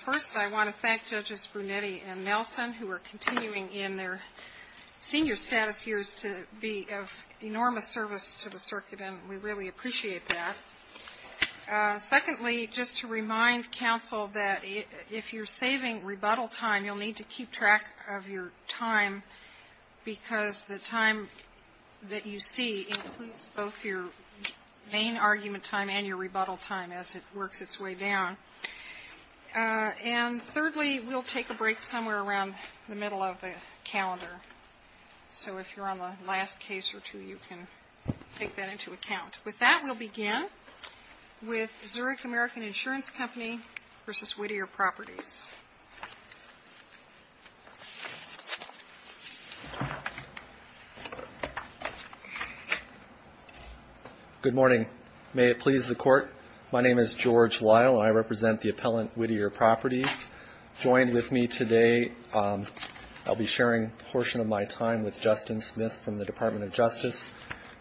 First, I want to thank Judges Brunetti and Nelson, who are continuing in their senior status years to be of enormous service to the circuit, and we really appreciate that. Secondly, just to remind counsel that if you're saving rebuttal time, you'll need to keep track of your time, because the time that you see includes both your main argument time and your rebuttal time as it works its way down. And thirdly, we'll take a break somewhere around the middle of the calendar. So if you're on the last case or two, you can take that into account. With that, we'll begin with Zurich American Insurance Company v. Whittier Properties. Good morning. May it please the Court, my name is George Lyle, and I represent the appellant Whittier Properties. Joined with me today, I'll be sharing a portion of my time with Justin Smith from the Department of Justice,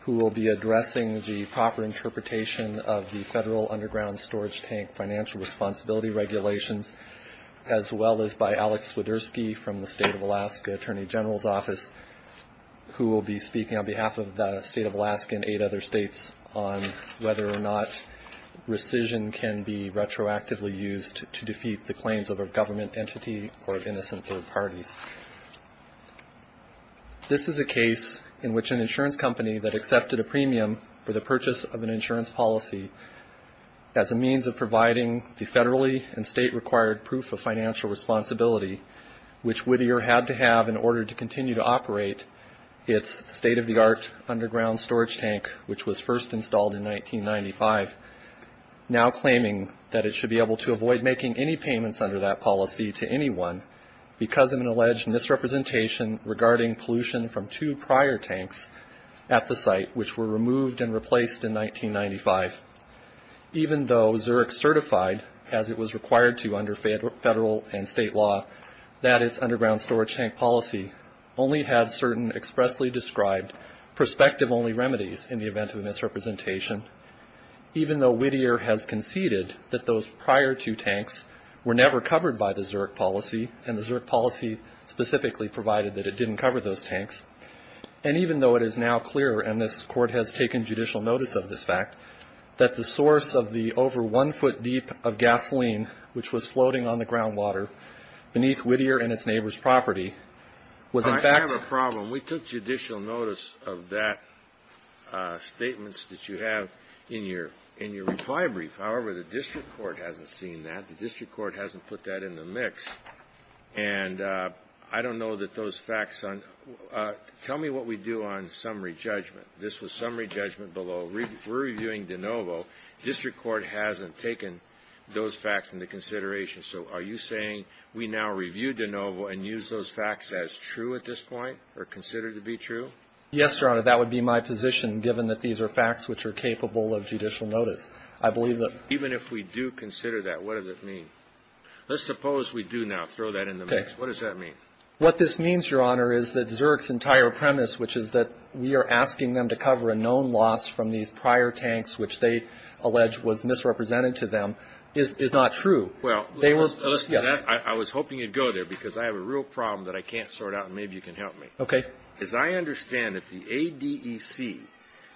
who will be addressing the proper interpretation of the federal underground storage tank financial responsibility regulations, as well as by Alex Swiderski from the State of Alaska Attorney General's Office, who will be speaking on behalf of the State of Alaska and eight other states on whether or not rescission can be retroactively used to defeat the claims of a government entity or innocent third parties. This is a case in which an insurance company that accepted a premium for the purchase of an insurance policy as a means of providing the federally and state-required proof of financial responsibility, which Whittier had to have in order to continue to operate its state-of-the-art underground storage tank, which was first installed in 1995, now claiming that it should be able to avoid making any payments under that policy to anyone because of an alleged misrepresentation regarding pollution from two prior tanks at the site, which were removed and replaced in 1995. Even though Zurich certified, as it was required to under federal and state law, that its underground storage tank policy only had certain expressly described perspective-only remedies in the event of a misrepresentation, even though Whittier has conceded that those prior two tanks were never covered by the Zurich policy and the Zurich policy specifically provided that it didn't cover those tanks, and even though it is now clear, and this Court has taken judicial notice of this fact, that the source of the over one foot deep of gasoline, which was floating on the groundwater beneath Whittier and its neighbor's property, was in fact... I have a problem. We took judicial notice of that statements that you have in your reply brief. However, the district court hasn't seen that. The district court hasn't put that in the mix, and I don't know that those facts on... Tell me what we do on summary judgment. This was summary judgment below. We're reviewing de novo. District court hasn't taken those facts into consideration. So are you saying we now review de novo and use those facts as true at this point or considered to be true? Yes, Your Honor. That would be my position, given that these are facts which are capable of judicial notice. I believe that... Even if we do consider that, what does it mean? Let's suppose we do now throw that in the mix. What does that mean? What this means, Your Honor, is that Zurich's entire premise, which is that we are asking them to cover a known loss from these prior tanks, which they allege was misrepresented to them, is not true. Well, listen to that. I was hoping you'd go there because I have a real problem that I can't sort out, and maybe you can help me. Okay. As I understand it, the ADEC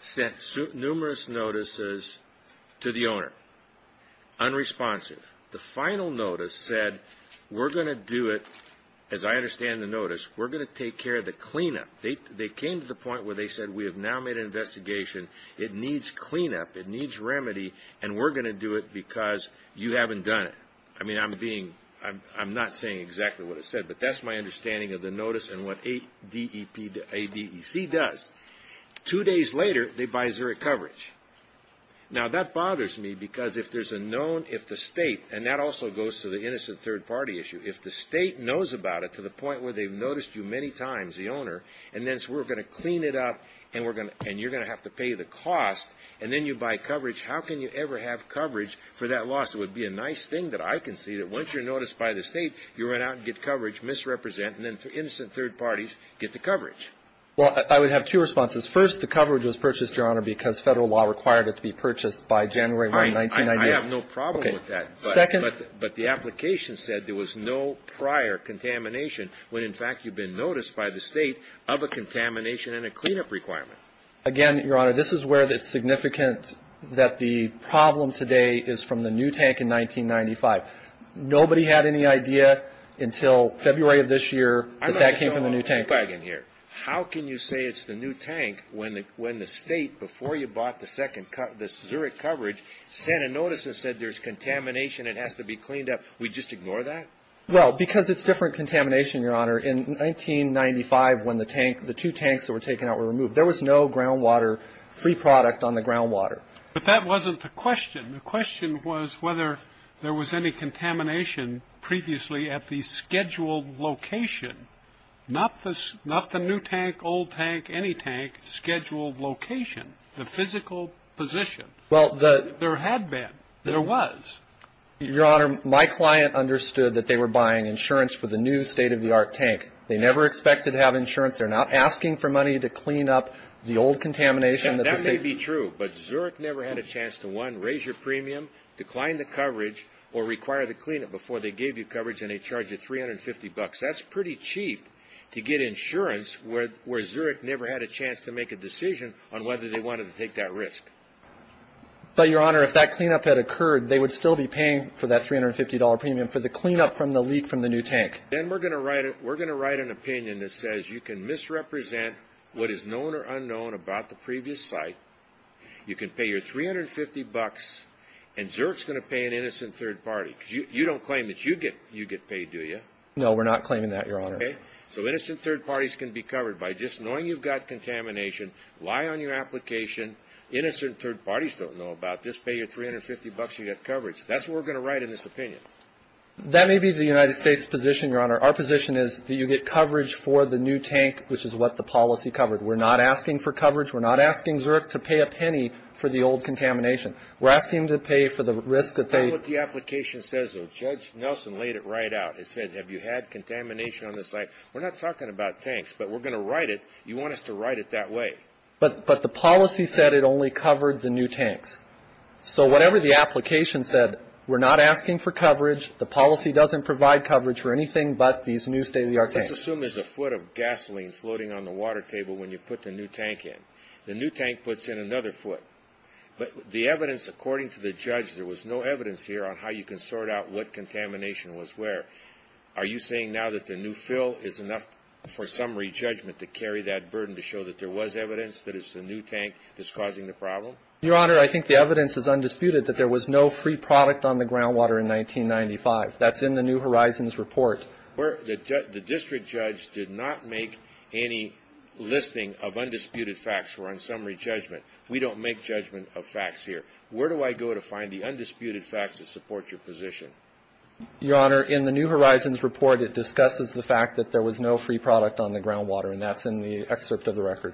sent numerous notices to the owner, unresponsive. The final notice said, we're going to do it, as I understand the notice, we're going to take care of the cleanup. They came to the point where they said, we have now made an investigation. It needs cleanup. It needs remedy, and we're going to do it because you haven't done it. I mean, I'm being – I'm not saying exactly what it said, but that's my understanding of the notice and what ADEC does. Two days later, they buy Zurich coverage. Now, that bothers me because if there's a known – if the State – and that also goes to the innocent third party issue. If the State knows about it to the point where they've noticed you many times, the owner, and then says, we're going to clean it up and you're going to have to pay the cost, and then you buy coverage, how can you ever have coverage for that loss? It would be a nice thing that I can see that once you're noticed by the State, you run out and get coverage, misrepresent, and then innocent third parties get the coverage. Well, I would have two responses. First, the coverage was purchased, Your Honor, because federal law required it to be purchased by January 1, 1998. I have no problem with that. But the application said there was no prior contamination when in fact you've been noticed by the State of a contamination and a cleanup requirement. Again, Your Honor, this is where it's significant that the problem today is from the new tank in 1995. Nobody had any idea until February of this year that that came from the new tank. How can you say it's the new tank when the State, before you bought the Zurich coverage, sent a notice that said there's contamination, it has to be cleaned up. We just ignore that? Well, because it's different contamination, Your Honor. In 1995, when the two tanks that were taken out were removed, there was no groundwater free product on the groundwater. But that wasn't the question. The question was whether there was any contamination previously at the scheduled location, not the new tank, old tank, any tank, scheduled location, the physical position. There had been. There was. Your Honor, my client understood that they were buying insurance for the new state-of-the-art tank. They never expected to have insurance. They're not asking for money to clean up the old contamination. That may be true, but Zurich never had a chance to, one, raise your premium, decline the coverage, or require the cleanup before they gave you coverage and they charged you $350. That's pretty cheap to get insurance, where Zurich never had a chance to make a decision on whether they wanted to take that risk. But, Your Honor, if that cleanup had occurred, they would still be paying for that $350 premium for the cleanup from the leak from the new tank. Then we're going to write an opinion that says you can misrepresent what is known or unknown about the previous site, you can pay your $350, and Zurich is going to pay an innocent third party. You don't claim that you get paid, do you? No, we're not claiming that, Your Honor. Okay. So innocent third parties can be covered by just knowing you've got contamination. Lie on your application. Innocent third parties don't know about this. Pay your $350 and you get coverage. That's what we're going to write in this opinion. That may be the United States' position, Your Honor. Our position is that you get coverage for the new tank, which is what the policy covered. We're not asking for coverage. We're not asking Zurich to pay a penny for the old contamination. We're asking them to pay for the risk that they... Tell them what the application says, though. Judge Nelson laid it right out. It said, have you had contamination on the site? We're not talking about tanks, but we're going to write it. You want us to write it that way. But the policy said it only covered the new tanks. So whatever the application said, we're not asking for coverage. The policy doesn't provide coverage for anything but these new state-of-the-art tanks. Let's assume there's a foot of gasoline floating on the water table when you put the new tank in. The new tank puts in another foot. But the evidence, according to the judge, there was no evidence here on how you can sort out what contamination was where. Are you saying now that the new fill is enough for summary judgment to carry that burden to show that there was evidence that it's the new tank that's causing the problem? Your Honor, I think the evidence is undisputed that there was no free product on the groundwater in 1995. That's in the New Horizons report. The district judge did not make any listing of undisputed facts for our summary judgment. We don't make judgment of facts here. Where do I go to find the undisputed facts that support your position? Your Honor, in the New Horizons report, it discusses the fact that there was no free product on the groundwater, and that's in the excerpt of the record,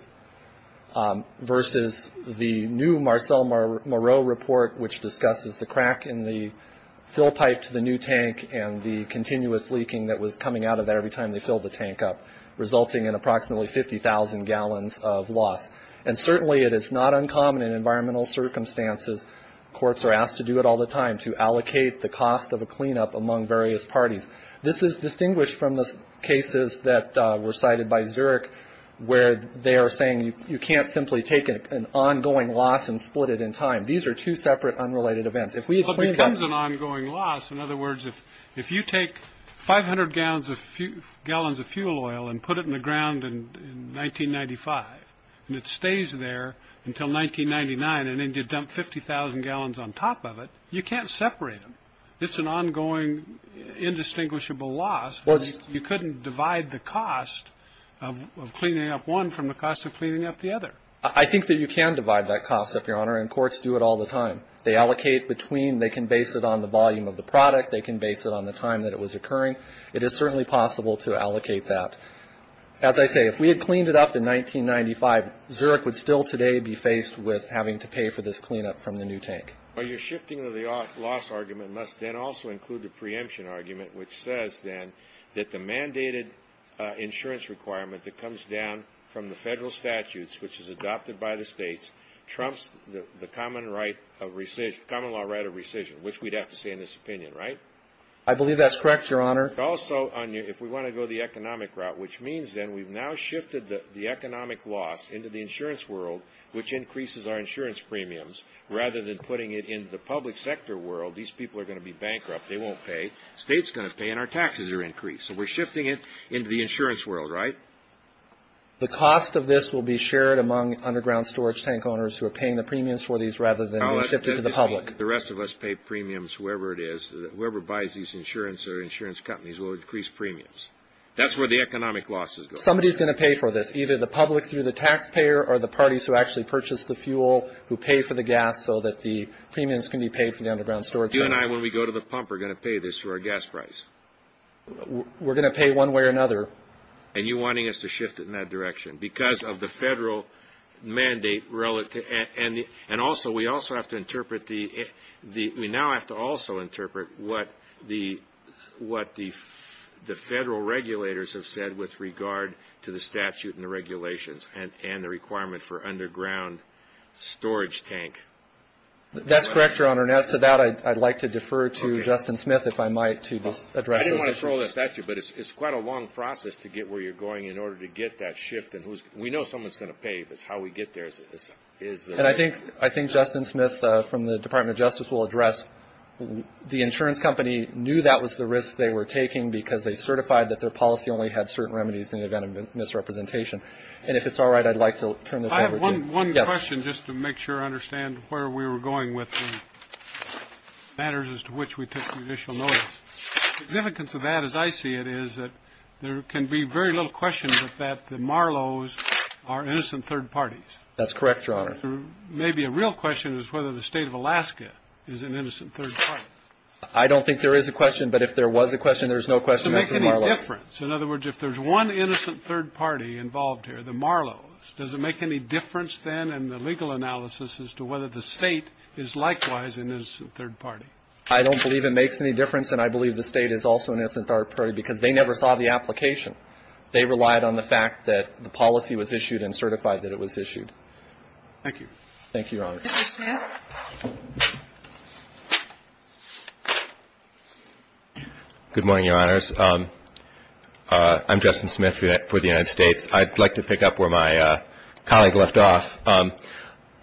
versus the new Marcel Moreau report, which discusses the crack in the fill pipe to the new tank and the continuous leaking that was coming out of there every time they filled the tank up, resulting in approximately 50,000 gallons of loss. And certainly it is not uncommon in environmental circumstances. Courts are asked to do it all the time, to allocate the cost of a cleanup among various parties. This is distinguished from the cases that were cited by Zurich, where they are saying you can't simply take an ongoing loss and split it in time. These are two separate, unrelated events. If we had cleaned up the tank. Well, it becomes an ongoing loss. In other words, if you take 500 gallons of fuel oil and put it in the ground in 1995 and it stays there until 1999 and then you dump 50,000 gallons on top of it, you can't separate them. It's an ongoing, indistinguishable loss. You couldn't divide the cost of cleaning up one from the cost of cleaning up the other. I think that you can divide that cost up, Your Honor, and courts do it all the time. They allocate between. They can base it on the volume of the product. They can base it on the time that it was occurring. It is certainly possible to allocate that. As I say, if we had cleaned it up in 1995, Zurich would still today be faced with having to pay for this cleanup from the new tank. Well, your shifting of the loss argument must then also include the preemption argument, which says then that the mandated insurance requirement that comes down from the federal statutes, which is adopted by the states, trumps the common law right of rescission, which we'd have to say in this opinion, right? I believe that's correct, Your Honor. Also, if we want to go the economic route, which means then we've now shifted the economic loss into the insurance world, which increases our insurance premiums, rather than putting it into the public sector world. These people are going to be bankrupt. They won't pay. States are going to pay, and our taxes are increased. So we're shifting it into the insurance world, right? The cost of this will be shared among underground storage tank owners who are paying the premiums for these rather than shift it to the public. The rest of us pay premiums, whoever it is. Whoever buys these insurance or insurance companies will increase premiums. That's where the economic losses go. Somebody's going to pay for this, either the public through the taxpayer or the parties who actually purchase the fuel who pay for the gas so that the premiums can be paid for the underground storage tank. You and I, when we go to the pump, are going to pay this through our gas price. We're going to pay one way or another. And you're wanting us to shift it in that direction. Because of the federal mandate, and also we now have to also interpret what the federal regulators have said with regard to the statute and the regulations and the requirement for underground storage tank. That's correct, Your Honor. And as to that, I'd like to defer to Justin Smith, if I might, to address those issues. I didn't want to throw this at you, but it's quite a long process to get where you're going in order to get that shift. And we know someone's going to pay, but how we get there is... And I think Justin Smith from the Department of Justice will address, the insurance company knew that was the risk they were taking because they certified that their policy only had certain remedies in the event of misrepresentation. And if it's all right, I'd like to turn this over to you. I have one question just to make sure I understand where we were going with the matters as to which we took judicial notice. The significance of that, as I see it, is that there can be very little question but that the Marlowe's are innocent third parties. That's correct, Your Honor. Maybe a real question is whether the State of Alaska is an innocent third party. I don't think there is a question, but if there was a question, there's no question that's the Marlowe's. Does it make any difference? In other words, if there's one innocent third party involved here, the Marlowe's, does it make any difference then in the legal analysis as to whether the State is likewise an innocent third party? I don't believe it makes any difference, and I believe the State is also an innocent third party because they never saw the application. They relied on the fact that the policy was issued and certified that it was issued. Thank you, Your Honor. Mr. Smith. Good morning, Your Honors. I'm Justin Smith for the United States. I'd like to pick up where my colleague left off. On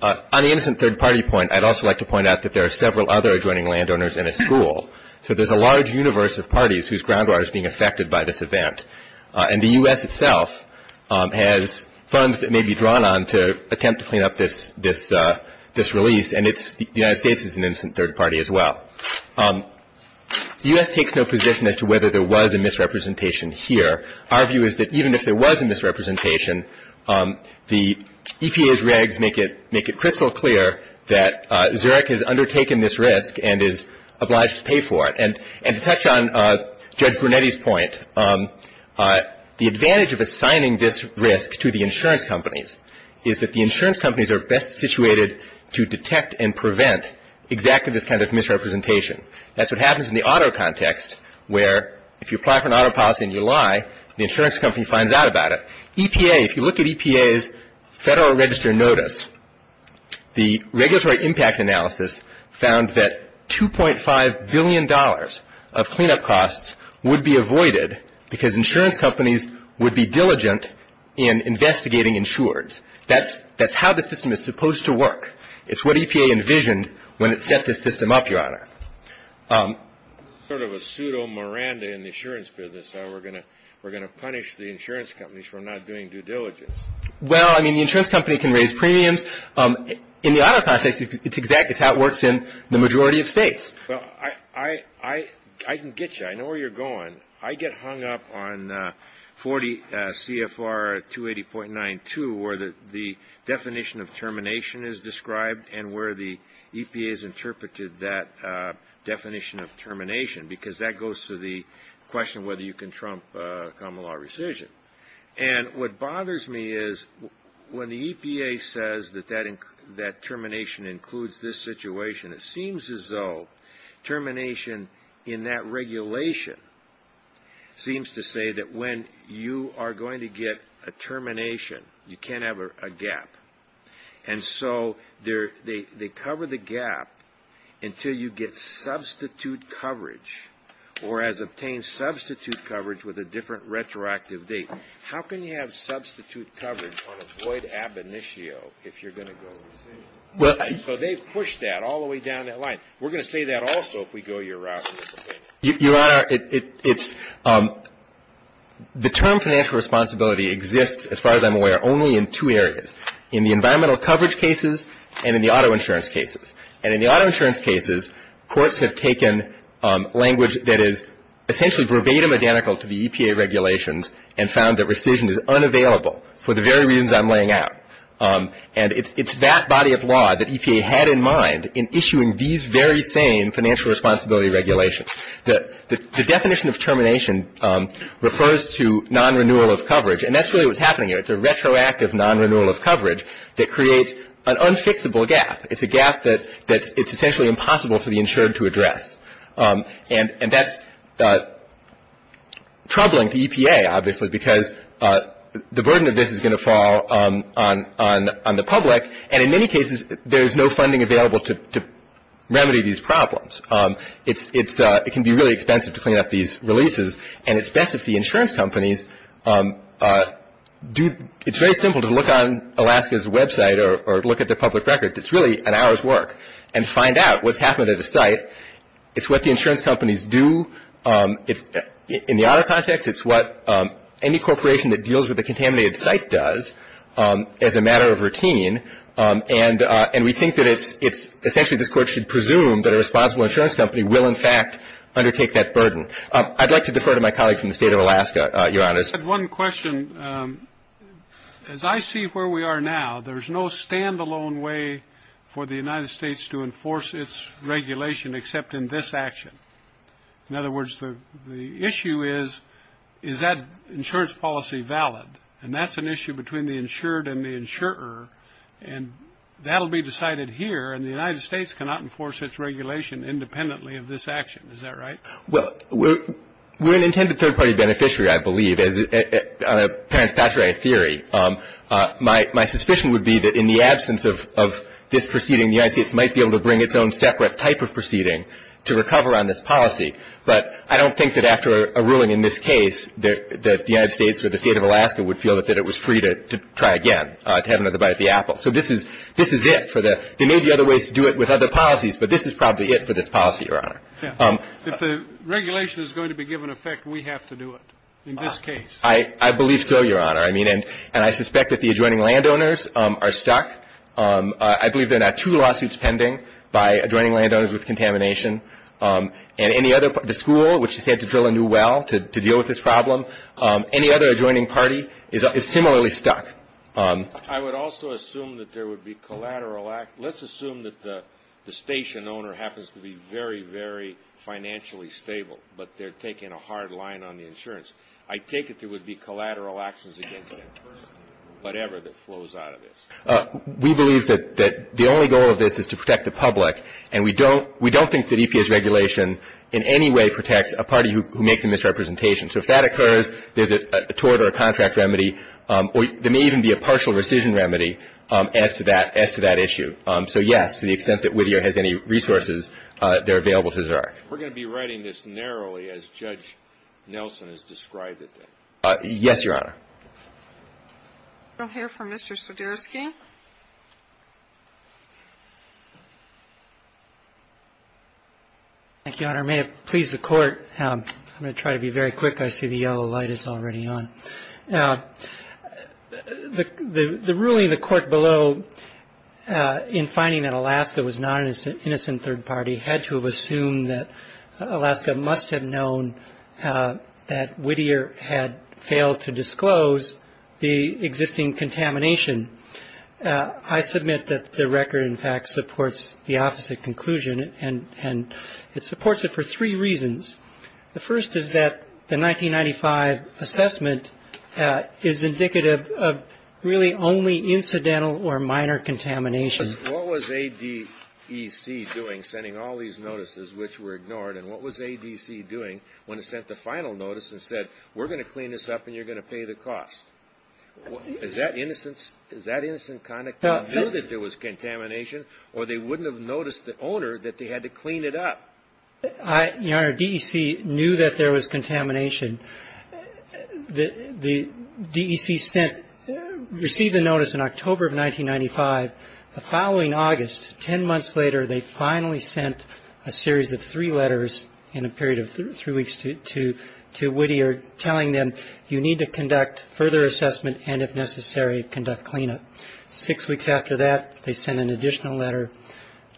the innocent third party point, I'd also like to point out that there are several other adjoining landowners in a school. So there's a large universe of parties whose groundwater is being affected by this event. And the U.S. itself has funds that may be drawn on to attempt to clean up this release, and the United States is an innocent third party as well. The U.S. takes no position as to whether there was a misrepresentation here. Our view is that even if there was a misrepresentation, the EPA's regs make it crystal clear that Zurich has undertaken this risk and is obliged to pay for it. And to touch on Judge Brunetti's point, the advantage of assigning this risk to the insurance companies is that the insurance companies are best situated to detect and prevent exactly this kind of misrepresentation. That's what happens in the auto context, where if you apply for an auto policy and you lie, the insurance company finds out about it. EPA, if you look at EPA's Federal Register notice, the regulatory impact analysis found that $2.5 billion of cleanup costs would be avoided because insurance companies would be diligent in investigating insureds. That's how the system is supposed to work. It's what EPA envisioned when it set this system up, Your Honor. Sort of a pseudo Miranda in the insurance business. We're going to punish the insurance companies for not doing due diligence. Well, I mean, the insurance company can raise premiums. In the auto context, it's exact. It's how it works in the majority of states. Well, I can get you. I know where you're going. I get hung up on 40 CFR 280.92, where the definition of termination is described and where the EPA has interpreted that definition of termination, because that goes to the question whether you can trump common law rescission. And what bothers me is when the EPA says that termination includes this situation, it seems as though termination in that regulation seems to say that when you are going to get a termination, you can't have a gap. And so they cover the gap until you get substitute coverage or has obtained substitute coverage with a different retroactive date. How can you have substitute coverage on a void ab initio if you're going to go the same way? So they've pushed that all the way down that line. We're going to say that also if we go your route. Your Honor, it's the term financial responsibility exists, as far as I'm aware, only in two areas, in the environmental coverage cases and in the auto insurance cases. And in the auto insurance cases, courts have taken language that is essentially verbatim identical to the EPA regulations and found that rescission is unavailable for the very reasons I'm laying out. And it's that body of law that EPA had in mind in issuing these very same financial responsibility regulations. The definition of termination refers to non-renewal of coverage, and that's really what's happening here. It's a retroactive non-renewal of coverage that creates an unfixable gap. It's a gap that it's essentially impossible for the insured to address. And that's troubling to EPA, obviously, because the burden of this is going to fall on the public. And in many cases, there's no funding available to remedy these problems. It can be really expensive to clean up these releases, and it's best if the insurance companies do – it's very simple to look on Alaska's website or look at their public records. It's really an hour's work. And find out what's happened at a site. It's what the insurance companies do. In the auto context, it's what any corporation that deals with a contaminated site does as a matter of routine. And we think that it's – essentially, this Court should presume that a responsible insurance company will, in fact, undertake that burden. I'd like to defer to my colleague from the State of Alaska, Your Honors. I just had one question. As I see where we are now, there's no stand-alone way for the United States to enforce its regulation except in this action. In other words, the issue is, is that insurance policy valid? And that's an issue between the insured and the insurer. And that will be decided here, and the United States cannot enforce its regulation independently of this action. Is that right? Well, we're an intended third-party beneficiary, I believe, on a parent-patriarch theory. My suspicion would be that in the absence of this proceeding, the United States might be able to bring its own separate type of proceeding to recover on this policy. But I don't think that after a ruling in this case that the United States or the State of Alaska would feel that it was free to try again, to have another bite of the apple. So this is it for the – there may be other ways to do it with other policies, but this is probably it for this policy, Your Honor. If the regulation is going to be given effect, we have to do it in this case. I believe so, Your Honor. I mean, and I suspect that the adjoining landowners are stuck. I believe there are now two lawsuits pending by adjoining landowners with contamination. And any other – the school, which has had to fill a new well to deal with this problem, any other adjoining party is similarly stuck. I would also assume that there would be collateral – let's assume that the station owner happens to be very, very financially stable, but they're taking a hard line on the insurance. I take it there would be collateral actions against them, whatever that flows out of this. We believe that the only goal of this is to protect the public, and we don't think that EPA's regulation in any way protects a party who makes a misrepresentation. So if that occurs, there's a tort or a contract remedy, or there may even be a partial rescission remedy as to that issue. So, yes, to the extent that Whittier has any resources, they're available to Xerox. We're going to be writing this narrowly, as Judge Nelson has described it. Yes, Your Honor. We'll hear from Mr. Swiderski. May it please the Court. I'm going to try to be very quick. I see the yellow light is already on. The ruling in the court below in finding that Alaska was not an innocent third party had to have assumed that Alaska must have known that Whittier had failed to disclose the existing contamination. I submit that the record, in fact, supports the opposite conclusion, and it supports it for three reasons. The first is that the 1995 assessment is indicative of really only incidental or minor contamination. What was ADEC doing, sending all these notices which were ignored? And what was ADEC doing when it sent the final notice and said, we're going to clean this up and you're going to pay the costs? Is that innocence? Is that innocent conduct? They knew that there was contamination, or they wouldn't have noticed the owner that they had to clean it up. Your Honor, DEC knew that there was contamination. The DEC sent or received a notice in October of 1995. The following August, 10 months later, they finally sent a series of three letters in a period of three weeks to Whittier telling them, you need to conduct further assessment and, if necessary, conduct cleanup. Six weeks after that, they sent an additional letter.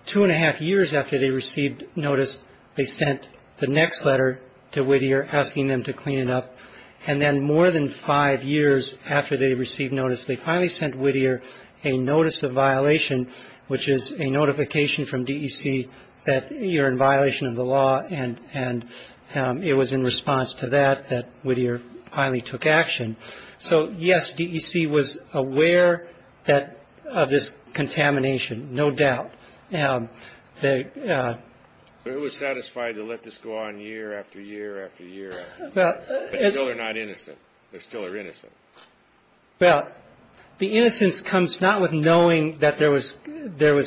Two and a half years after they received notice, they sent the next letter to Whittier asking them to clean it up. And then more than five years after they received notice, they finally sent Whittier a notice of violation, which is a notification from DEC that you're in violation of the law. And it was in response to that that Whittier finally took action. So, yes, DEC was aware of this contamination, no doubt. Who was satisfied to let this go on year after year after year after year? They're still not innocent. They're still innocent. Well, the innocence comes not with knowing that there was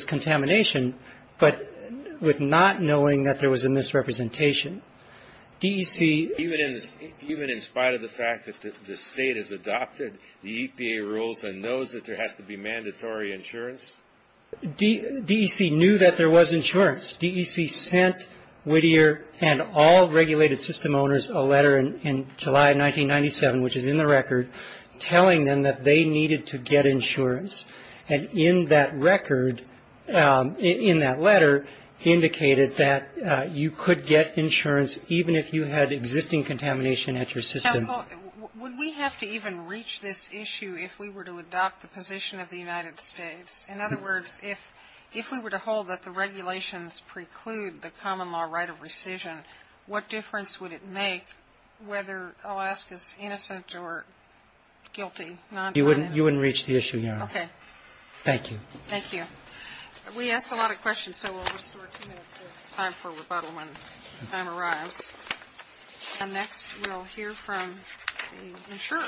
contamination, but with not knowing that there was a misrepresentation. DEC ---- Even in spite of the fact that the State has adopted the EPA rules and knows that there has to be mandatory insurance? DEC knew that there was insurance. DEC sent Whittier and all regulated system owners a letter in July of 1997, which is in the record, telling them that they needed to get insurance. And in that record, in that letter, indicated that you could get insurance even if you had existing contamination at your system. Counsel, would we have to even reach this issue if we were to adopt the position of the United States? In other words, if we were to hold that the regulations preclude the common law right of rescission, what difference would it make whether Alaska's innocent or guilty? You wouldn't reach the issue, Your Honor. Okay. Thank you. Thank you. We asked a lot of questions, so we'll restore two minutes of time for rebuttal when the time arrives. And next we'll hear from the insurer.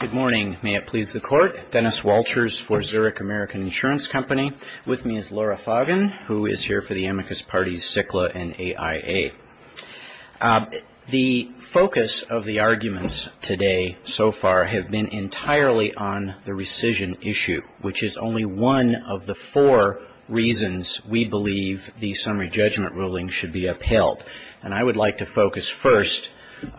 Good morning. May it please the Court. Dennis Walters for Zurich American Insurance Company. With me is Laura Foggin, who is here for the amicus parties CICLA and AIA. The focus of the arguments today so far have been entirely on the rescission issue, which is only one of the four reasons we believe the summary judgment ruling should be upheld. And I would like to focus first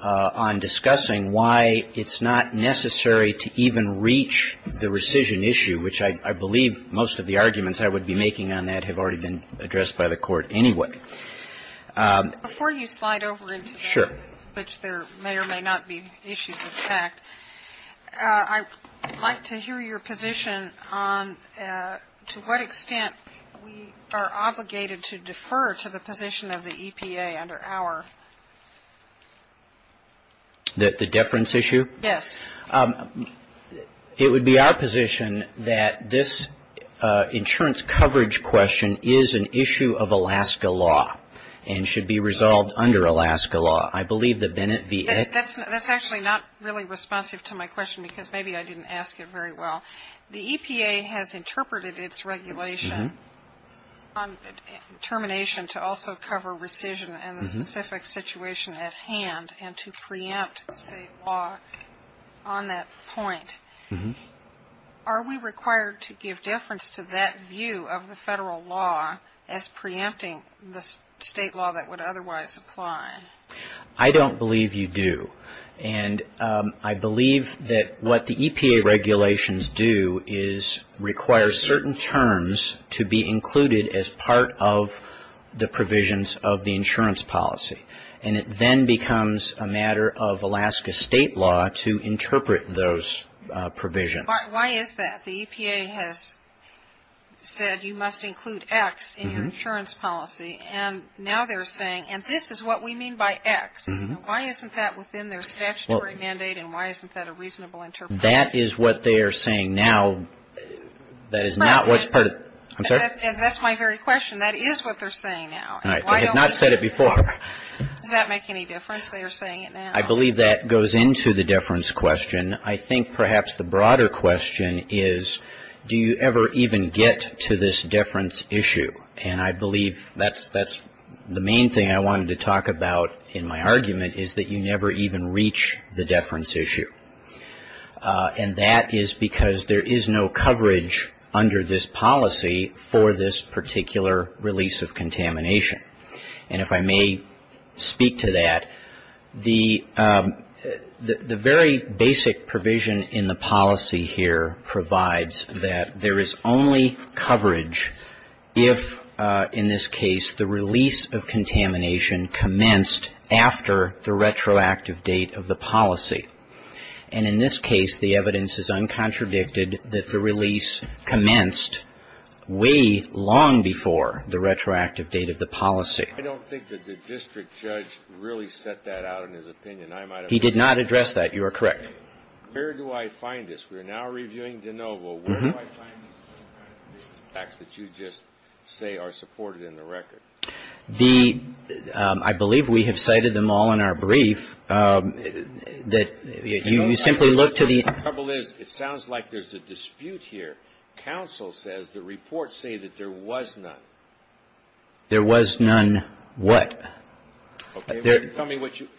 on discussing why it's not necessary to even reach the rescission issue, which I believe most of the arguments I would be making on that have already been addressed by the Court anyway. Before you slide over into that, which there may or may not be issues of fact, I would like to hear your position on to what extent we are obligated to defer to the position of the EPA under our. The deference issue? Yes. It would be our position that this insurance coverage question is an issue of Alaska law and should be resolved under Alaska law. I believe that Bennett v. That's actually not really responsive to my question because maybe I didn't ask it very well. The EPA has interpreted its regulation on termination to also cover rescission and the specific situation at hand and to preempt state law on that point. Are we required to give deference to that view of the federal law as preempting the state law that would otherwise apply? I don't believe you do. And I believe that what the EPA regulations do is require certain terms to be included as part of the provisions of the insurance policy. And it then becomes a matter of Alaska state law to interpret those provisions. Why is that? The EPA has said you must include X in your insurance policy. And now they're saying, and this is what we mean by X. Why isn't that within their statutory mandate and why isn't that a reasonable interpretation? That is what they are saying now. That is not what's part of. I'm sorry? That's my very question. That is what they're saying now. I have not said it before. Does that make any difference? They are saying it now. I believe that goes into the deference question. I think perhaps the broader question is do you ever even get to this deference issue? And I believe that's the main thing I wanted to talk about in my argument is that you never even reach the deference issue. And that is because there is no coverage under this policy for this particular release of contamination. And if I may speak to that, the very basic provision in the policy here provides that there is only coverage if the release of contamination commenced after the retroactive date of the policy. And in this case, the evidence is uncontradicted that the release commenced way long before the retroactive date of the policy. I don't think that the district judge really set that out in his opinion. He did not address that. You are correct. Where do I find this? We are now reviewing de novo. Where do I find these facts that you just say are supported in the record? I believe we have cited them all in our brief. You simply look to the end. The trouble is it sounds like there is a dispute here. Counsel says the reports say that there was none. There was none what?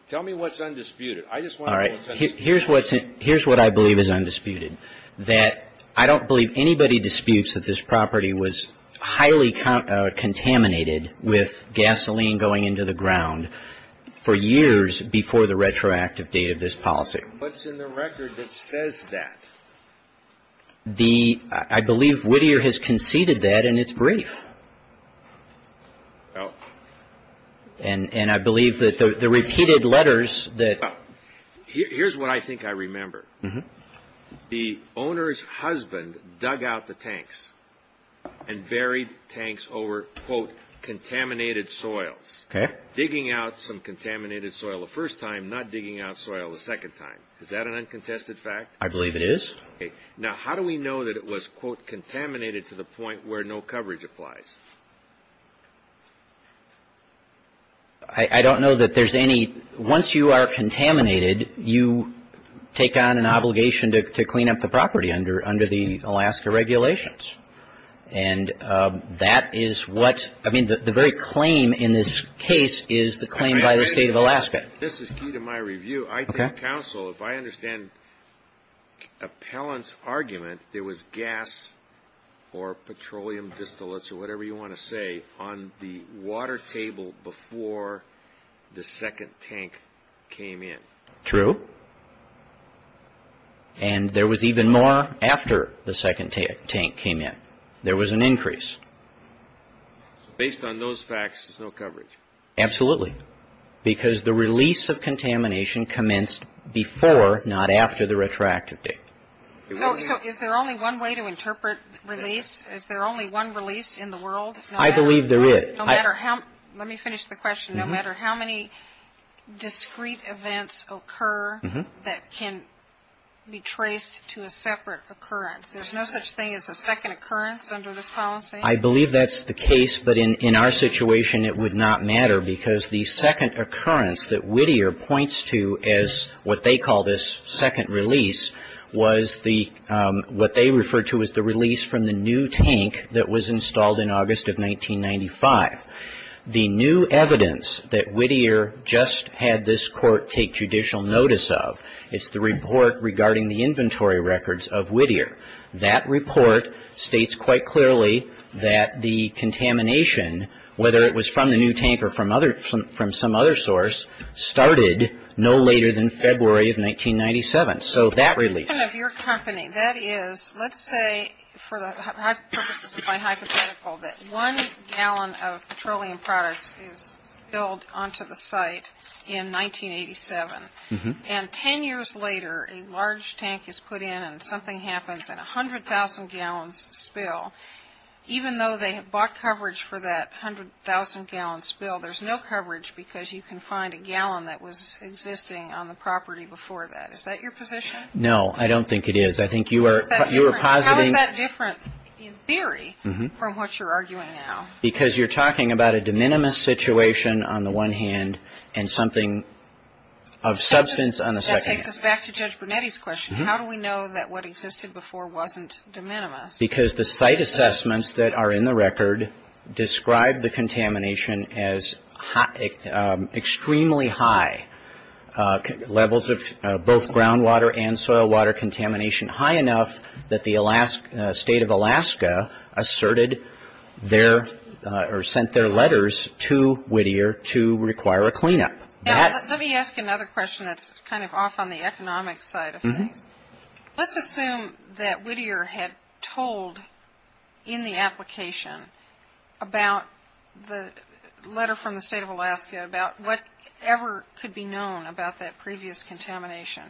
Tell me what's undisputed. All right. Here's what I believe is undisputed. That I don't believe anybody disputes that this property was highly contaminated with gasoline going into the ground for years before the retroactive date of this policy. What's in the record that says that? I believe Whittier has conceded that in its brief. Oh. And I believe that the repeated letters that Here's what I think I remember. The owner's husband dug out the tanks and buried tanks over, quote, contaminated soils. Okay. Digging out some contaminated soil the first time, not digging out soil the second time. Is that an uncontested fact? I believe it is. Okay. Now, how do we know that it was, quote, contaminated to the point where no coverage applies? I don't know that there's any. Once you are contaminated, you take on an obligation to clean up the property under the Alaska regulations. And that is what, I mean, the very claim in this case is the claim by the State of Alaska. This is key to my review. Okay. I think counsel, if I understand Appellant's argument, there was gas or petroleum or whatever you want to say on the water table before the second tank came in. True. And there was even more after the second tank came in. There was an increase. Based on those facts, there's no coverage. Absolutely. Because the release of contamination commenced before, not after, the retroactive date. So is there only one way to interpret release? Is there only one release in the world? I believe there is. Let me finish the question. No matter how many discrete events occur that can be traced to a separate occurrence, there's no such thing as a second occurrence under this policy? I believe that's the case. But in our situation, it would not matter because the second occurrence that Whittier points to as what they call this second release was the what they refer to as the release from the new tank that was installed in August of 1995. The new evidence that Whittier just had this Court take judicial notice of, it's the report regarding the inventory records of Whittier. That report states quite clearly that the contamination, whether it was from the new tank or from some other source, started no later than February of 1997. So that release. The problem of your company, that is, let's say, for the purposes of my hypothetical, that one gallon of petroleum products is spilled onto the site in 1987. And ten years later, a large tank is put in and something happens and 100,000 gallons spill. Even though they have bought coverage for that 100,000 gallon spill, there's no coverage because you can find a gallon that was existing on the property before that. Is that your position? No, I don't think it is. I think you are positing. How is that different in theory from what you're arguing now? Because you're talking about a de minimis situation on the one hand and something of substance on the second hand. That takes us back to Judge Brunetti's question. How do we know that what existed before wasn't de minimis? Because the site assessments that are in the record describe the contamination as extremely high. Levels of both groundwater and soil water contamination high enough that the state of Alaska asserted their or sent their letters to Whittier to require a cleanup. Let me ask another question that's kind of off on the economic side of things. Let's assume that Whittier had told in the application about the letter from the state of Alaska about whatever could be known about that previous contamination.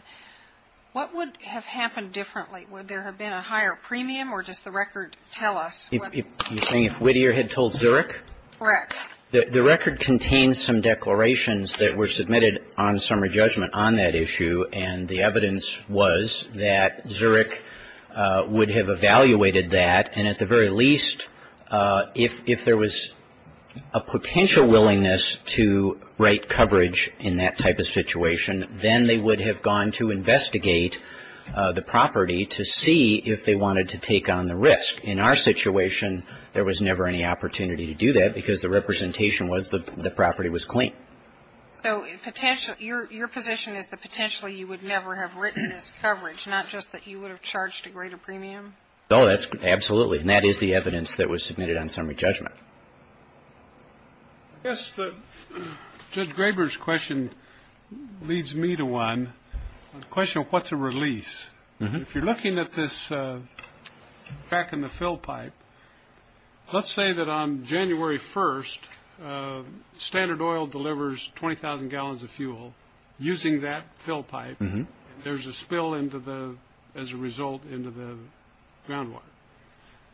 What would have happened differently? Would there have been a higher premium or does the record tell us? You're saying if Whittier had told Zurich? Correct. The record contains some declarations that were submitted on summary judgment on that issue and the evidence was that Zurich would have evaluated that and at the very least if there was a potential willingness to write coverage in that type of situation, then they would have gone to investigate the property to see if they wanted to take on the risk. In our situation, there was never any opportunity to do that because the representation was the property was clean. So your position is that potentially you would never have written this coverage, not just that you would have charged a greater premium? Absolutely, and that is the evidence that was submitted on summary judgment. I guess Judge Graber's question leads me to one. The question of what's a release. If you're looking at this back in the fill pipe, let's say that on January 1st, Standard Oil delivers 20,000 gallons of fuel using that fill pipe. There's a spill as a result into the groundwater.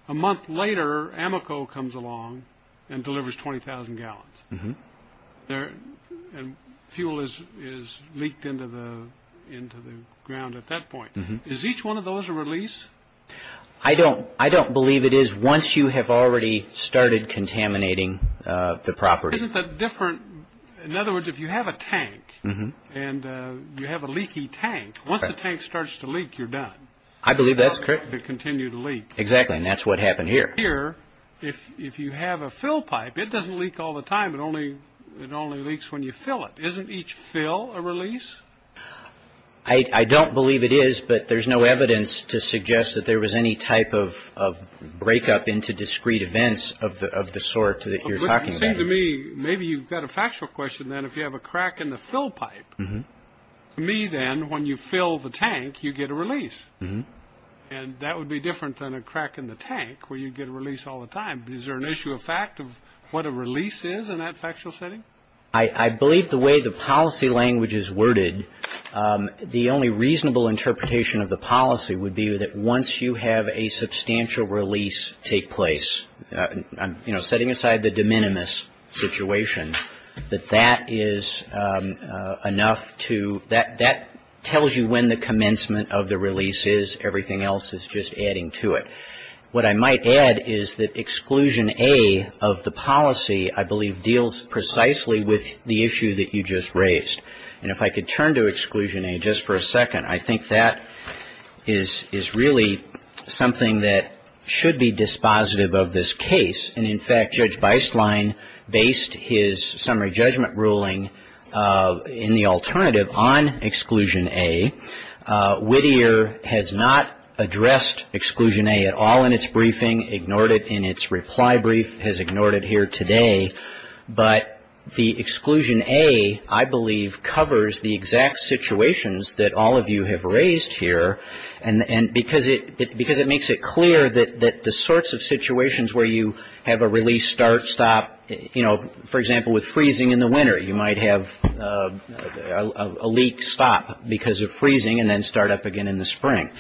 A month later, Amoco comes along and delivers 20,000 gallons. Fuel is leaked into the ground at that point. Is each one of those a release? I don't believe it is once you have already started contaminating the property. Isn't that different? In other words, if you have a tank and you have a leaky tank, once the tank starts to leak, you're done. I believe that's correct. It continues to leak. Exactly, and that's what happened here. Here, if you have a fill pipe, it doesn't leak all the time. It only leaks when you fill it. Isn't each fill a release? I don't believe it is, but there's no evidence to suggest that there was any type of breakup into discrete events of the sort that you're talking about. It seems to me maybe you've got a factual question then if you have a crack in the fill pipe. To me then, when you fill the tank, you get a release, and that would be different than a crack in the tank where you get a release all the time. Is there an issue of fact of what a release is in that factual setting? I believe the way the policy language is worded, the only reasonable interpretation of the policy would be that once you have a substantial release take place, you know, setting aside the de minimis situation, that that is enough to – that tells you when the commencement of the release is. Everything else is just adding to it. What I might add is that Exclusion A of the policy, I believe, deals precisely with the issue that you just raised. And if I could turn to Exclusion A just for a second, I think that is really something that should be dispositive of this case. And, in fact, Judge Beistlein based his summary judgment ruling in the alternative on Exclusion A. Whittier has not addressed Exclusion A at all in its briefing, ignored it in its reply brief, has ignored it here today. But the Exclusion A, I believe, covers the exact situations that all of you have raised here, and because it makes it clear that the sorts of situations where you have a release start, stop, you know, for example, with freezing in the winter, you might have a leak stop because of freezing and then start up again in the spring.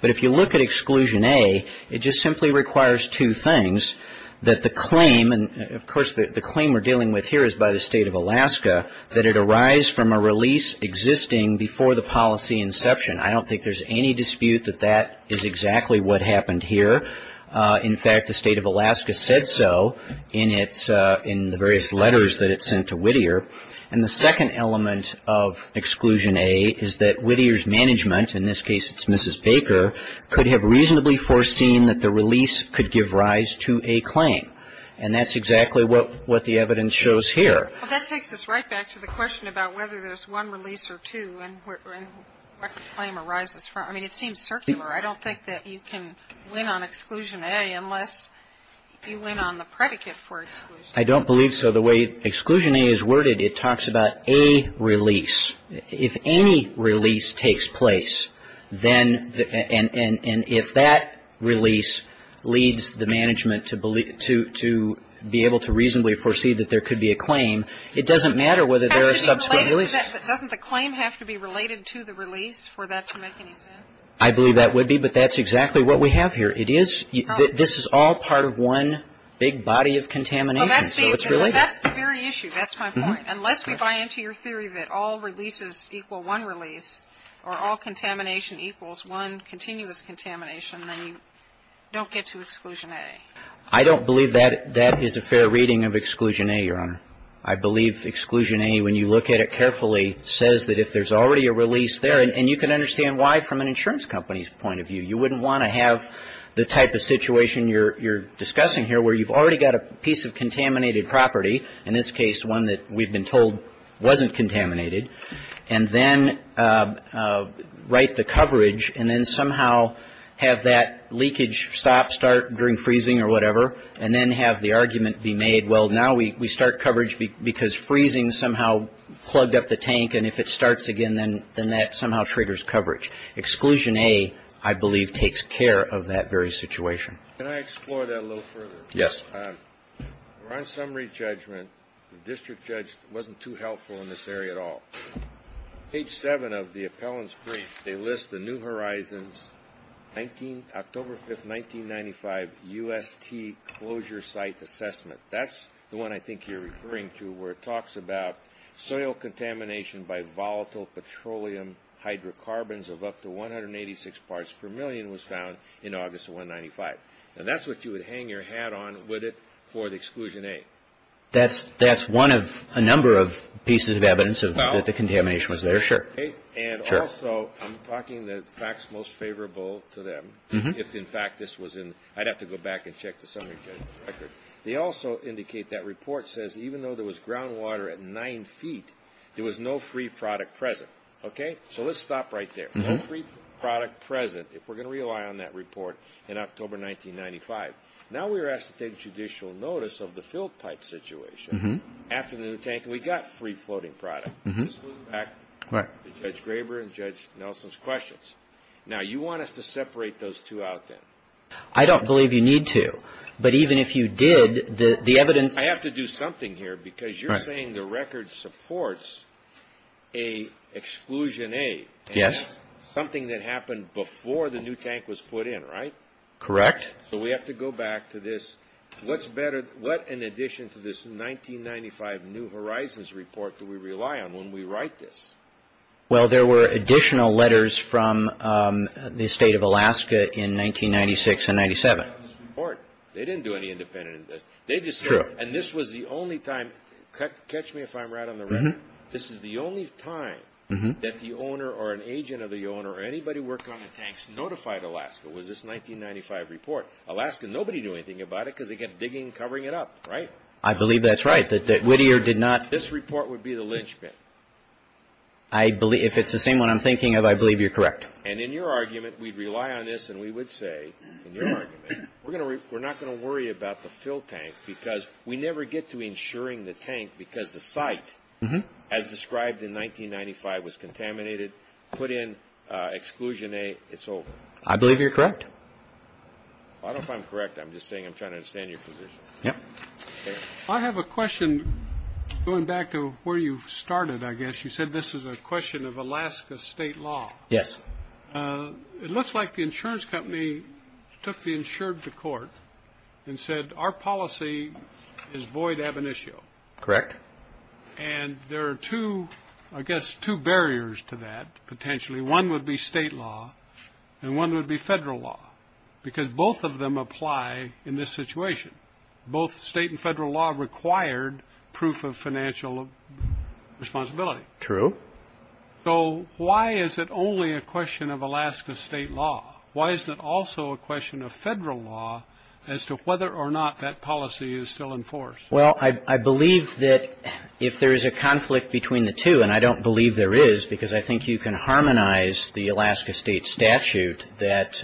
But if you look at Exclusion A, it just simply requires two things, that the claim – and, of course, the claim we're dealing with here is by the State of Alaska – that it arise from a release existing before the policy inception. I don't think there's any dispute that that is exactly what happened here. In fact, the State of Alaska said so in its – in the various letters that it sent to Whittier. And the second element of Exclusion A is that Whittier's management, in this case it's Mrs. Baker, could have reasonably foreseen that the release could give rise to a claim. And that's exactly what the evidence shows here. Well, that takes us right back to the question about whether there's one release or two and where the claim arises from. I mean, it seems circular. I don't think that you can win on Exclusion A unless you win on the predicate for Exclusion A. I don't believe so. The way Exclusion A is worded, it talks about a release. If any release takes place, then – and if that release leads the management to believe – to be able to reasonably foresee that there could be a claim, it doesn't matter whether there are sub- Doesn't the claim have to be related to the release for that to make any sense? I believe that would be, but that's exactly what we have here. It is – this is all part of one big body of contamination, so it's related. Well, that's the very issue. That's my point. Unless we buy into your theory that all releases equal one release, or all contamination equals one continuous contamination, then you don't get to Exclusion A. I don't believe that that is a fair reading of Exclusion A, Your Honor. I believe Exclusion A, when you look at it carefully, says that if there's already a release there – and you can understand why from an insurance company's point of view. You wouldn't want to have the type of situation you're discussing here where you've already got a piece of contaminated property, in this case one that we've been told wasn't contaminated, and then write the coverage and then somehow have that leakage stop, start during freezing or whatever, and then have the argument be made, well, now we start coverage because freezing somehow plugged up the tank, and if it starts again, then that somehow triggers coverage. Exclusion A, I believe, takes care of that very situation. Can I explore that a little further? Yes. Your Honor, on summary judgment, the district judge wasn't too helpful in this area at all. Page 7 of the appellant's brief, they list the New Horizons, October 5, 1995, UST closure site assessment. That's the one I think you're referring to where it talks about soil contamination by volatile petroleum hydrocarbons of up to 186 parts per million was found in August of 1995. And that's what you would hang your hat on, would it, for the exclusion A? That's one of a number of pieces of evidence that the contamination was there, sure. And also, I'm talking the facts most favorable to them. If, in fact, this was in – I'd have to go back and check the summary judgment record. They also indicate that report says even though there was groundwater at 9 feet, there was no free product present. Okay? So let's stop right there. No free product present if we're going to rely on that report in October 1995. Now we're asked to take judicial notice of the filled pipe situation after the new tank, and we got free floating product. This goes back to Judge Graber and Judge Nelson's questions. Now, you want us to separate those two out then? I don't believe you need to. But even if you did, the evidence – I have to do something here because you're saying the record supports a exclusion A. Yes. Something that happened before the new tank was put in, right? Correct. So we have to go back to this. What's better – what in addition to this 1995 New Horizons report do we rely on when we write this? Well, there were additional letters from the State of Alaska in 1996 and 97. They didn't rely on this report. They didn't do any independent – they just said – True. And this was the only time – catch me if I'm right on the record. This is the only time that the owner or an agent of the owner or anybody who worked on the tanks notified Alaska was this 1995 report. Alaska, nobody knew anything about it because they kept digging and covering it up, right? I believe that's right, that Whittier did not – This report would be the linchpin. If it's the same one I'm thinking of, I believe you're correct. And in your argument, we'd rely on this and we would say, in your argument, we're not going to worry about the fill tank because we never get to insuring the tank because the site, as described in 1995, was contaminated, put in exclusion A, it's over. I believe you're correct. I don't know if I'm correct. I'm just saying I'm trying to understand your position. Yeah. I have a question going back to where you started, I guess. You said this is a question of Alaska state law. Yes. It looks like the insurance company took the insured to court and said our policy is void ab initio. Correct. And there are two, I guess, two barriers to that potentially. One would be state law and one would be federal law because both of them apply in this situation. Both state and federal law required proof of financial responsibility. True. So why is it only a question of Alaska state law? Why is it also a question of federal law as to whether or not that policy is still enforced? Well, I believe that if there is a conflict between the two, and I don't believe there is because I think you can harmonize the Alaska state statute that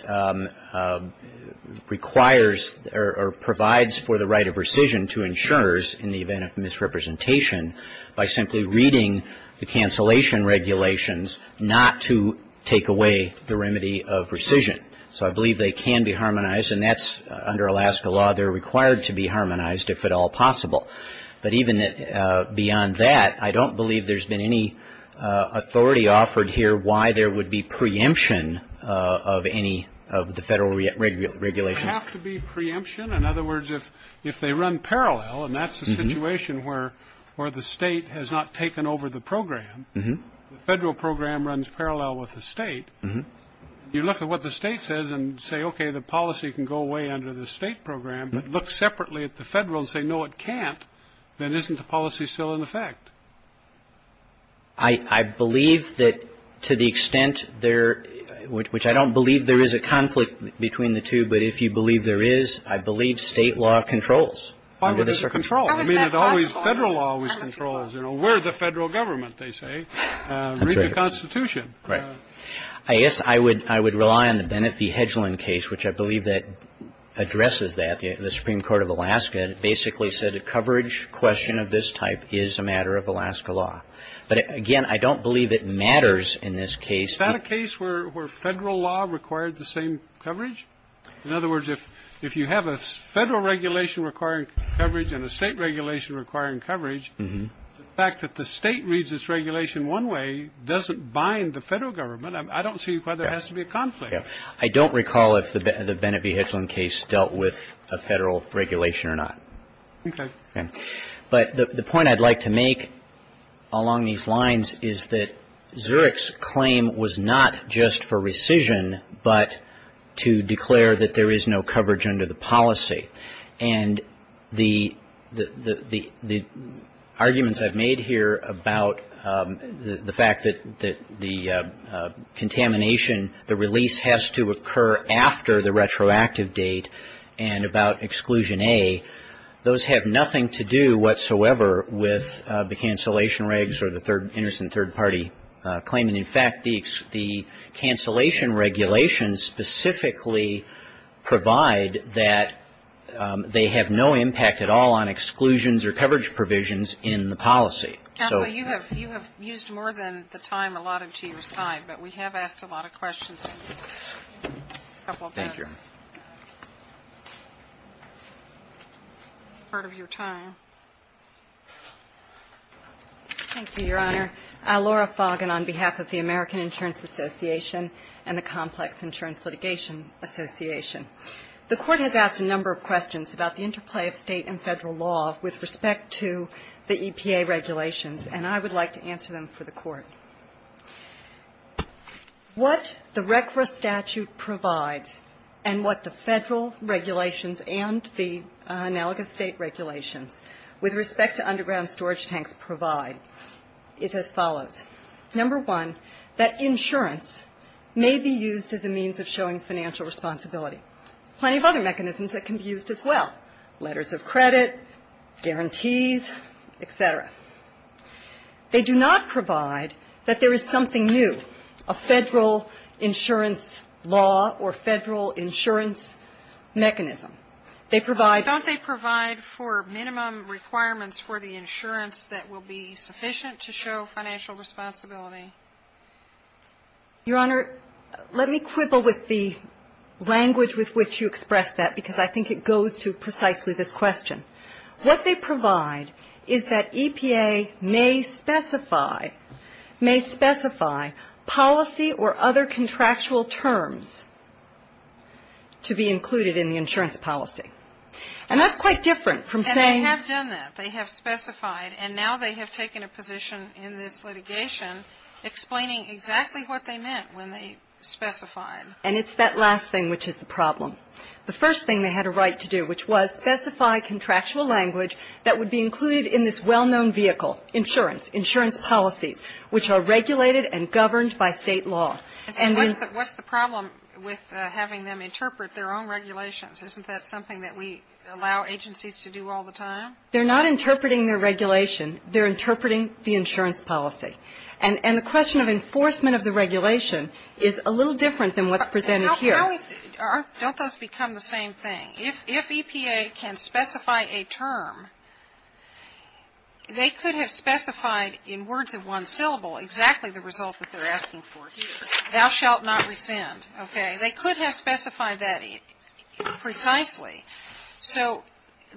requires or provides for the right of rescission to insurers in the event of misrepresentation by simply reading the cancellation regulations not to take away the remedy of rescission. So I believe they can be harmonized and that's under Alaska law. They're required to be harmonized if at all possible. But even beyond that, I don't believe there's been any authority offered here why there would be preemption of any of the federal regulations. Does it have to be preemption? In other words, if they run parallel, and that's the situation where the state has not taken over the program, the federal program runs parallel with the state, you look at what the state says and say, okay, the policy can go away under the state program, but look separately at the federal and say, no, it can't, then isn't the policy still in effect? I believe that to the extent there, which I don't believe there is a conflict between the two, but if you believe there is, I believe state law controls. Why would it control? Federal law always controls. We're the federal government, they say. Read the Constitution. Right. I guess I would rely on the Bennett v. Hedgeland case, which I believe addresses that. The Supreme Court of Alaska basically said a coverage question of this type is a matter of Alaska law. But, again, I don't believe it matters in this case. Is that a case where federal law required the same coverage? In other words, if you have a federal regulation requiring coverage and a state regulation requiring coverage, the fact that the state reads its regulation one way doesn't bind the federal government. I don't see why there has to be a conflict. I don't recall if the Bennett v. Hedgeland case dealt with a federal regulation or not. Okay. But the point I'd like to make along these lines is that Zurich's claim was not just for rescission, but to declare that there is no coverage under the policy. And the arguments I've made here about the fact that the contamination, the release has to occur after the retroactive date and about Exclusion A, those have nothing to do whatsoever with the cancellation regs or the innocent third-party claim. And, in fact, the cancellation regulations specifically provide that they have no impact at all on exclusions or coverage provisions in the policy. Counsel, you have used more than the time allotted to your side, but we have asked a lot of questions. Thank you. Thank you, Your Honor. I'm Laura Foggin on behalf of the American Insurance Association and the Complex Insurance Litigation Association. The Court has asked a number of questions about the interplay of State and Federal law with respect to the EPA regulations, and I would like to answer them for the Court. What the RCRA statute provides and what the Federal regulations and the analogous State regulations with respect to underground storage tanks provide is as follows. Number one, that insurance may be used as a means of showing financial responsibility. Plenty of other mechanisms that can be used as well, letters of credit, guarantees, et cetera. They do not provide that there is something new, a Federal insurance law or Federal insurance mechanism. They provide ---- The insurance that will be sufficient to show financial responsibility. Your Honor, let me quibble with the language with which you expressed that, because I think it goes to precisely this question. What they provide is that EPA may specify, may specify policy or other contractual terms to be included in the insurance policy. And that's quite different from saying ---- And they have done that. They have specified. And now they have taken a position in this litigation explaining exactly what they meant when they specified. And it's that last thing which is the problem. The first thing they had a right to do, which was specify contractual language that would be included in this well-known vehicle, insurance, insurance policies, which are regulated and governed by State law. And then ---- So what's the problem with having them interpret their own regulations? Isn't that something that we allow agencies to do all the time? They're not interpreting their regulation. They're interpreting the insurance policy. And the question of enforcement of the regulation is a little different than what's presented here. Don't those become the same thing? If EPA can specify a term, they could have specified in words of one syllable exactly the result that they're asking for. Thou shalt not rescind. Okay? They could have specified that precisely. So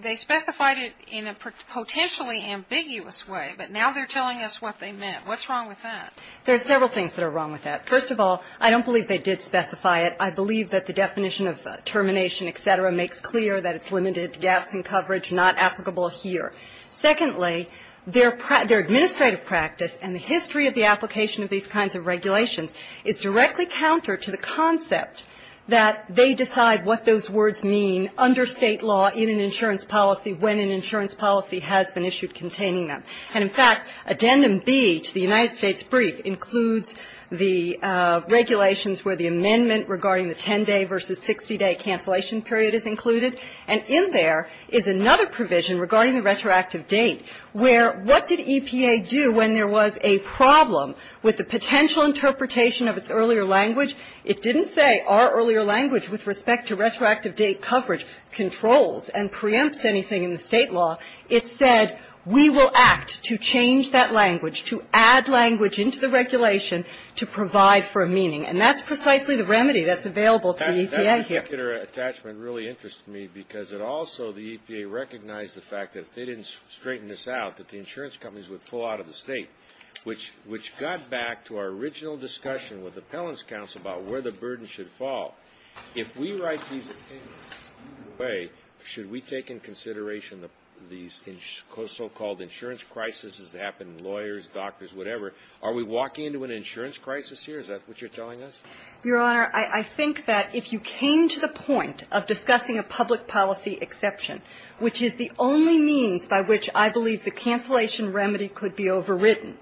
they specified it in a potentially ambiguous way, but now they're telling us what they meant. What's wrong with that? There are several things that are wrong with that. First of all, I don't believe they did specify it. I believe that the definition of termination, et cetera, makes clear that it's limited, gaps in coverage, not applicable here. Secondly, their administrative practice and the history of the application of these kinds of regulations is directly counter to the concept that they decide what those words mean under State law in an insurance policy when an insurance policy has been issued containing them. And, in fact, Addendum B to the United States brief includes the regulations where the amendment regarding the 10-day versus 60-day cancellation period is included. And in there is another provision regarding the retroactive date where what did EPA do when there was a problem with the potential interpretation of its earlier language? It didn't say our earlier language with respect to retroactive date coverage controls and preempts anything in the State law. It said we will act to change that language, to add language into the regulation to provide for a meaning. And that's precisely the remedy that's available to the EPA here. That particular attachment really interests me because it also, the EPA recognized the fact that if they didn't straighten this out, that the insurance companies would pull out of the State, which got back to our original discussion with Appellant's counsel about where the burden should fall. If we write these things away, should we take into consideration these so-called insurance crises that happen in lawyers, doctors, whatever? Are we walking into an insurance crisis here? Is that what you're telling us? Your Honor, I think that if you came to the point of discussing a public policy exception, which is the only means by which I believe the cancellation remedy could be overridden,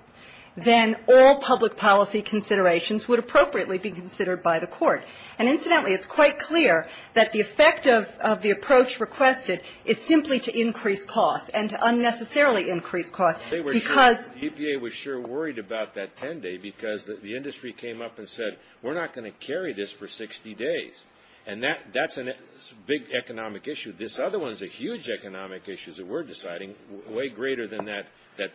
then all public policy considerations would appropriately be considered by the Court. And incidentally, it's quite clear that the effect of the approach requested is simply to increase costs and to unnecessarily increase costs because the EPA was sure worried about that 10-day because the industry came up and said we're not going to carry this for 60 days. And that's a big economic issue. This other one is a huge economic issue that we're deciding, way greater than that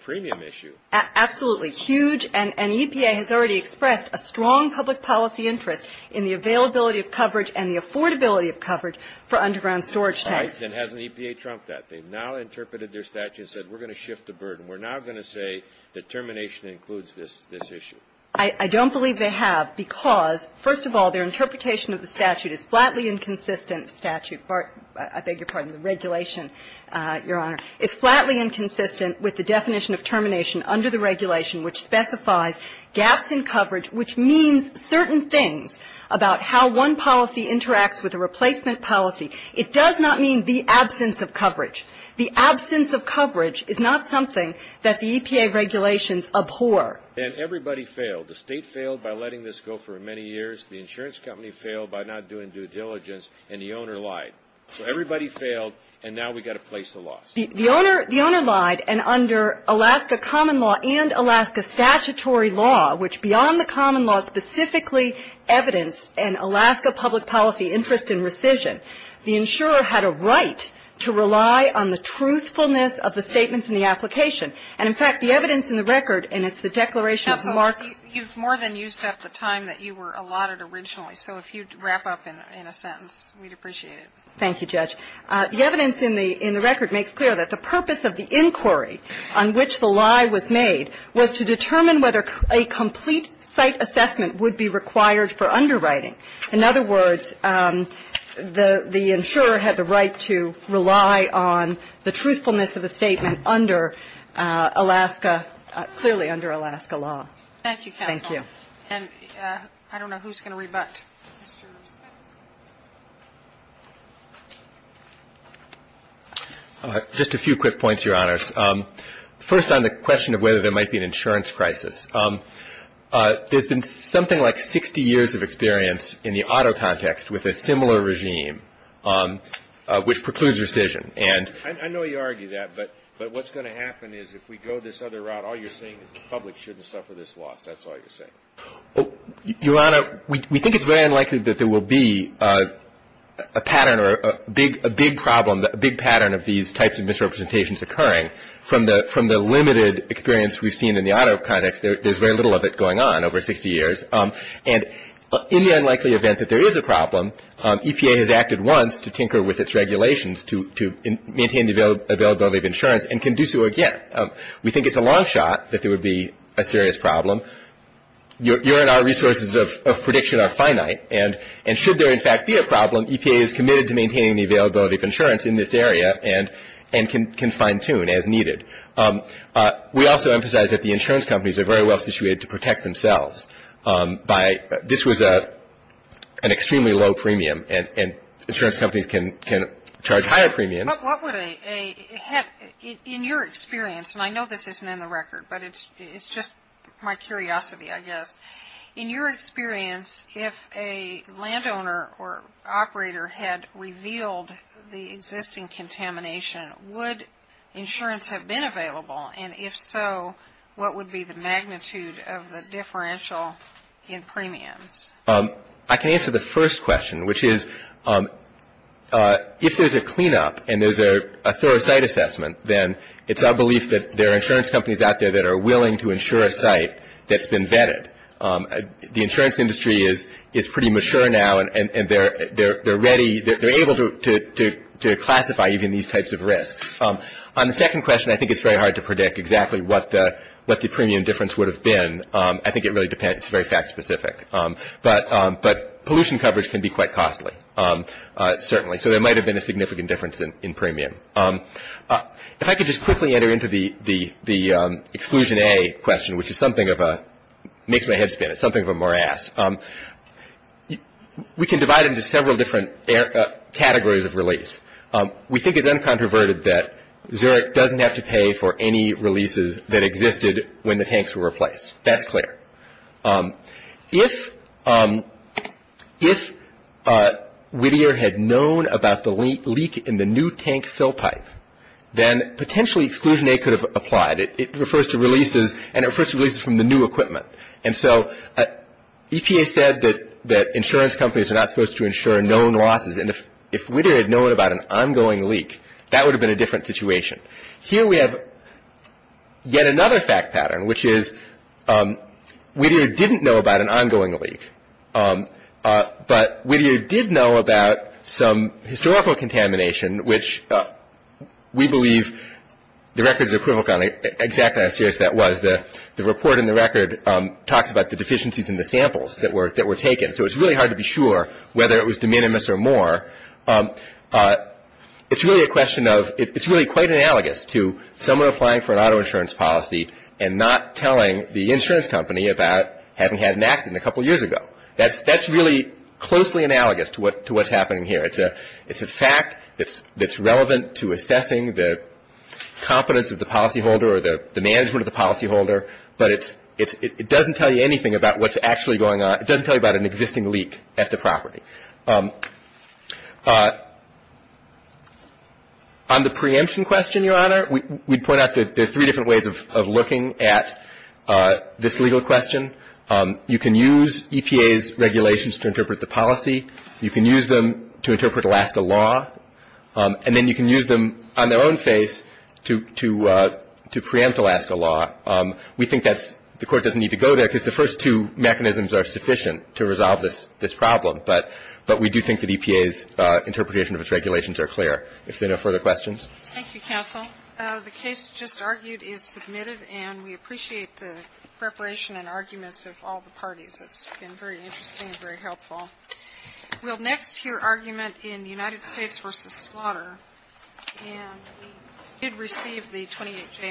premium issue. Absolutely. Huge. And EPA has already expressed a strong public policy interest in the availability of coverage and the affordability of coverage for underground storage tanks. Right. And hasn't EPA trumped that? They've now interpreted their statute and said we're going to shift the burden. We're now going to say that termination includes this issue. I don't believe they have because, first of all, their interpretation of the statute is flatly inconsistent. Statute, I beg your pardon, the regulation, Your Honor, is flatly inconsistent with the definition of termination under the regulation which specifies gaps in coverage which means certain things about how one policy interacts with a replacement policy. It does not mean the absence of coverage. The absence of coverage is not something that the EPA regulations abhor. And everybody failed. The State failed by letting this go for many years. The insurance company failed by not doing due diligence, and the owner lied. So everybody failed, and now we've got to place the laws. The owner lied, and under Alaska common law and Alaska statutory law, which beyond the common law specifically evidenced an Alaska public policy interest in rescission, the insurer had a right to rely on the truthfulness of the statements in the application. And, in fact, the evidence in the record, and it's the declaration You've more than used up the time that you were allotted originally. So if you'd wrap up in a sentence, we'd appreciate it. Thank you, Judge. The evidence in the record makes clear that the purpose of the inquiry on which the lie was made was to determine whether a complete site assessment would be required for underwriting. In other words, the insurer had the right to rely on the truthfulness of a statement under Alaska, clearly under Alaska law. Thank you, counsel. Thank you. And I don't know who's going to rebut. Just a few quick points, Your Honors. First on the question of whether there might be an insurance crisis. There's been something like 60 years of experience in the auto context with a similar regime, which precludes rescission. I know you argue that, but what's going to happen is if we go this other route, all you're saying is the public shouldn't suffer this loss. That's all you're saying. Your Honor, we think it's very unlikely that there will be a pattern or a big problem, a big pattern of these types of misrepresentations occurring. From the limited experience we've seen in the auto context, there's very little of it going on over 60 years. And in the unlikely event that there is a problem, EPA has acted once to tinker with its regulations to maintain the availability of insurance and can do so again. We think it's a long shot that there would be a serious problem. Your and our resources of prediction are finite. And should there, in fact, be a problem, EPA is committed to maintaining the availability of insurance in this area and can fine-tune as needed. We also emphasize that the insurance companies are very well-situated to protect themselves. This was an extremely low premium, and insurance companies can charge higher premiums. But what would a – in your experience, and I know this isn't in the record, but it's just my curiosity, I guess. In your experience, if a landowner or operator had revealed the existing contamination, would insurance have been available? And if so, what would be the magnitude of the differential in premiums? I can answer the first question, which is if there's a cleanup and there's a thorough site assessment, then it's our belief that there are insurance companies out there that are willing to insure a site that's been vetted. The insurance industry is pretty mature now, and they're ready – they're able to classify even these types of risks. On the second question, I think it's very hard to predict exactly what the premium difference would have been. I think it really depends. It's very fact-specific. But pollution coverage can be quite costly, certainly. So there might have been a significant difference in premium. If I could just quickly enter into the exclusion A question, which is something of a – makes my head spin. It's something of a morass. We can divide it into several different categories of release. We think it's uncontroverted that Zurich doesn't have to pay for any releases that existed when the tanks were replaced. That's clear. If Whittier had known about the leak in the new tank fill pipe, then potentially exclusion A could have applied. It refers to releases, and it refers to releases from the new equipment. And so EPA said that insurance companies are not supposed to insure known losses. And if Whittier had known about an ongoing leak, that would have been a different situation. Here we have yet another fact pattern, which is Whittier didn't know about an ongoing leak. But Whittier did know about some historical contamination, which we believe the record is equivocal on exactly how serious that was. The report in the record talks about the deficiencies in the samples that were taken. So it's really hard to be sure whether it was de minimis or more. It's really a question of – it's really quite analogous to someone applying for an auto insurance policy and not telling the insurance company about having had an accident a couple years ago. That's really closely analogous to what's happening here. It's a fact that's relevant to assessing the competence of the policyholder or the management of the policyholder, but it doesn't tell you anything about what's actually going on. It doesn't tell you about an existing leak at the property. On the preemption question, Your Honor, we'd point out that there are three different ways of looking at this legal question. You can use EPA's regulations to interpret the policy. You can use them to interpret Alaska law. And then you can use them on their own face to preempt Alaska law. We think that's – the Court doesn't need to go there because the first two mechanisms are sufficient to resolve this problem. But we do think that EPA's interpretation of its regulations are clear. If there are no further questions. Thank you, counsel. The case just argued is submitted, and we appreciate the preparation and arguments of all the parties. It's been very interesting and very helpful. We'll next hear argument in United States v. Slaughter. And you did receive the 28-K materials.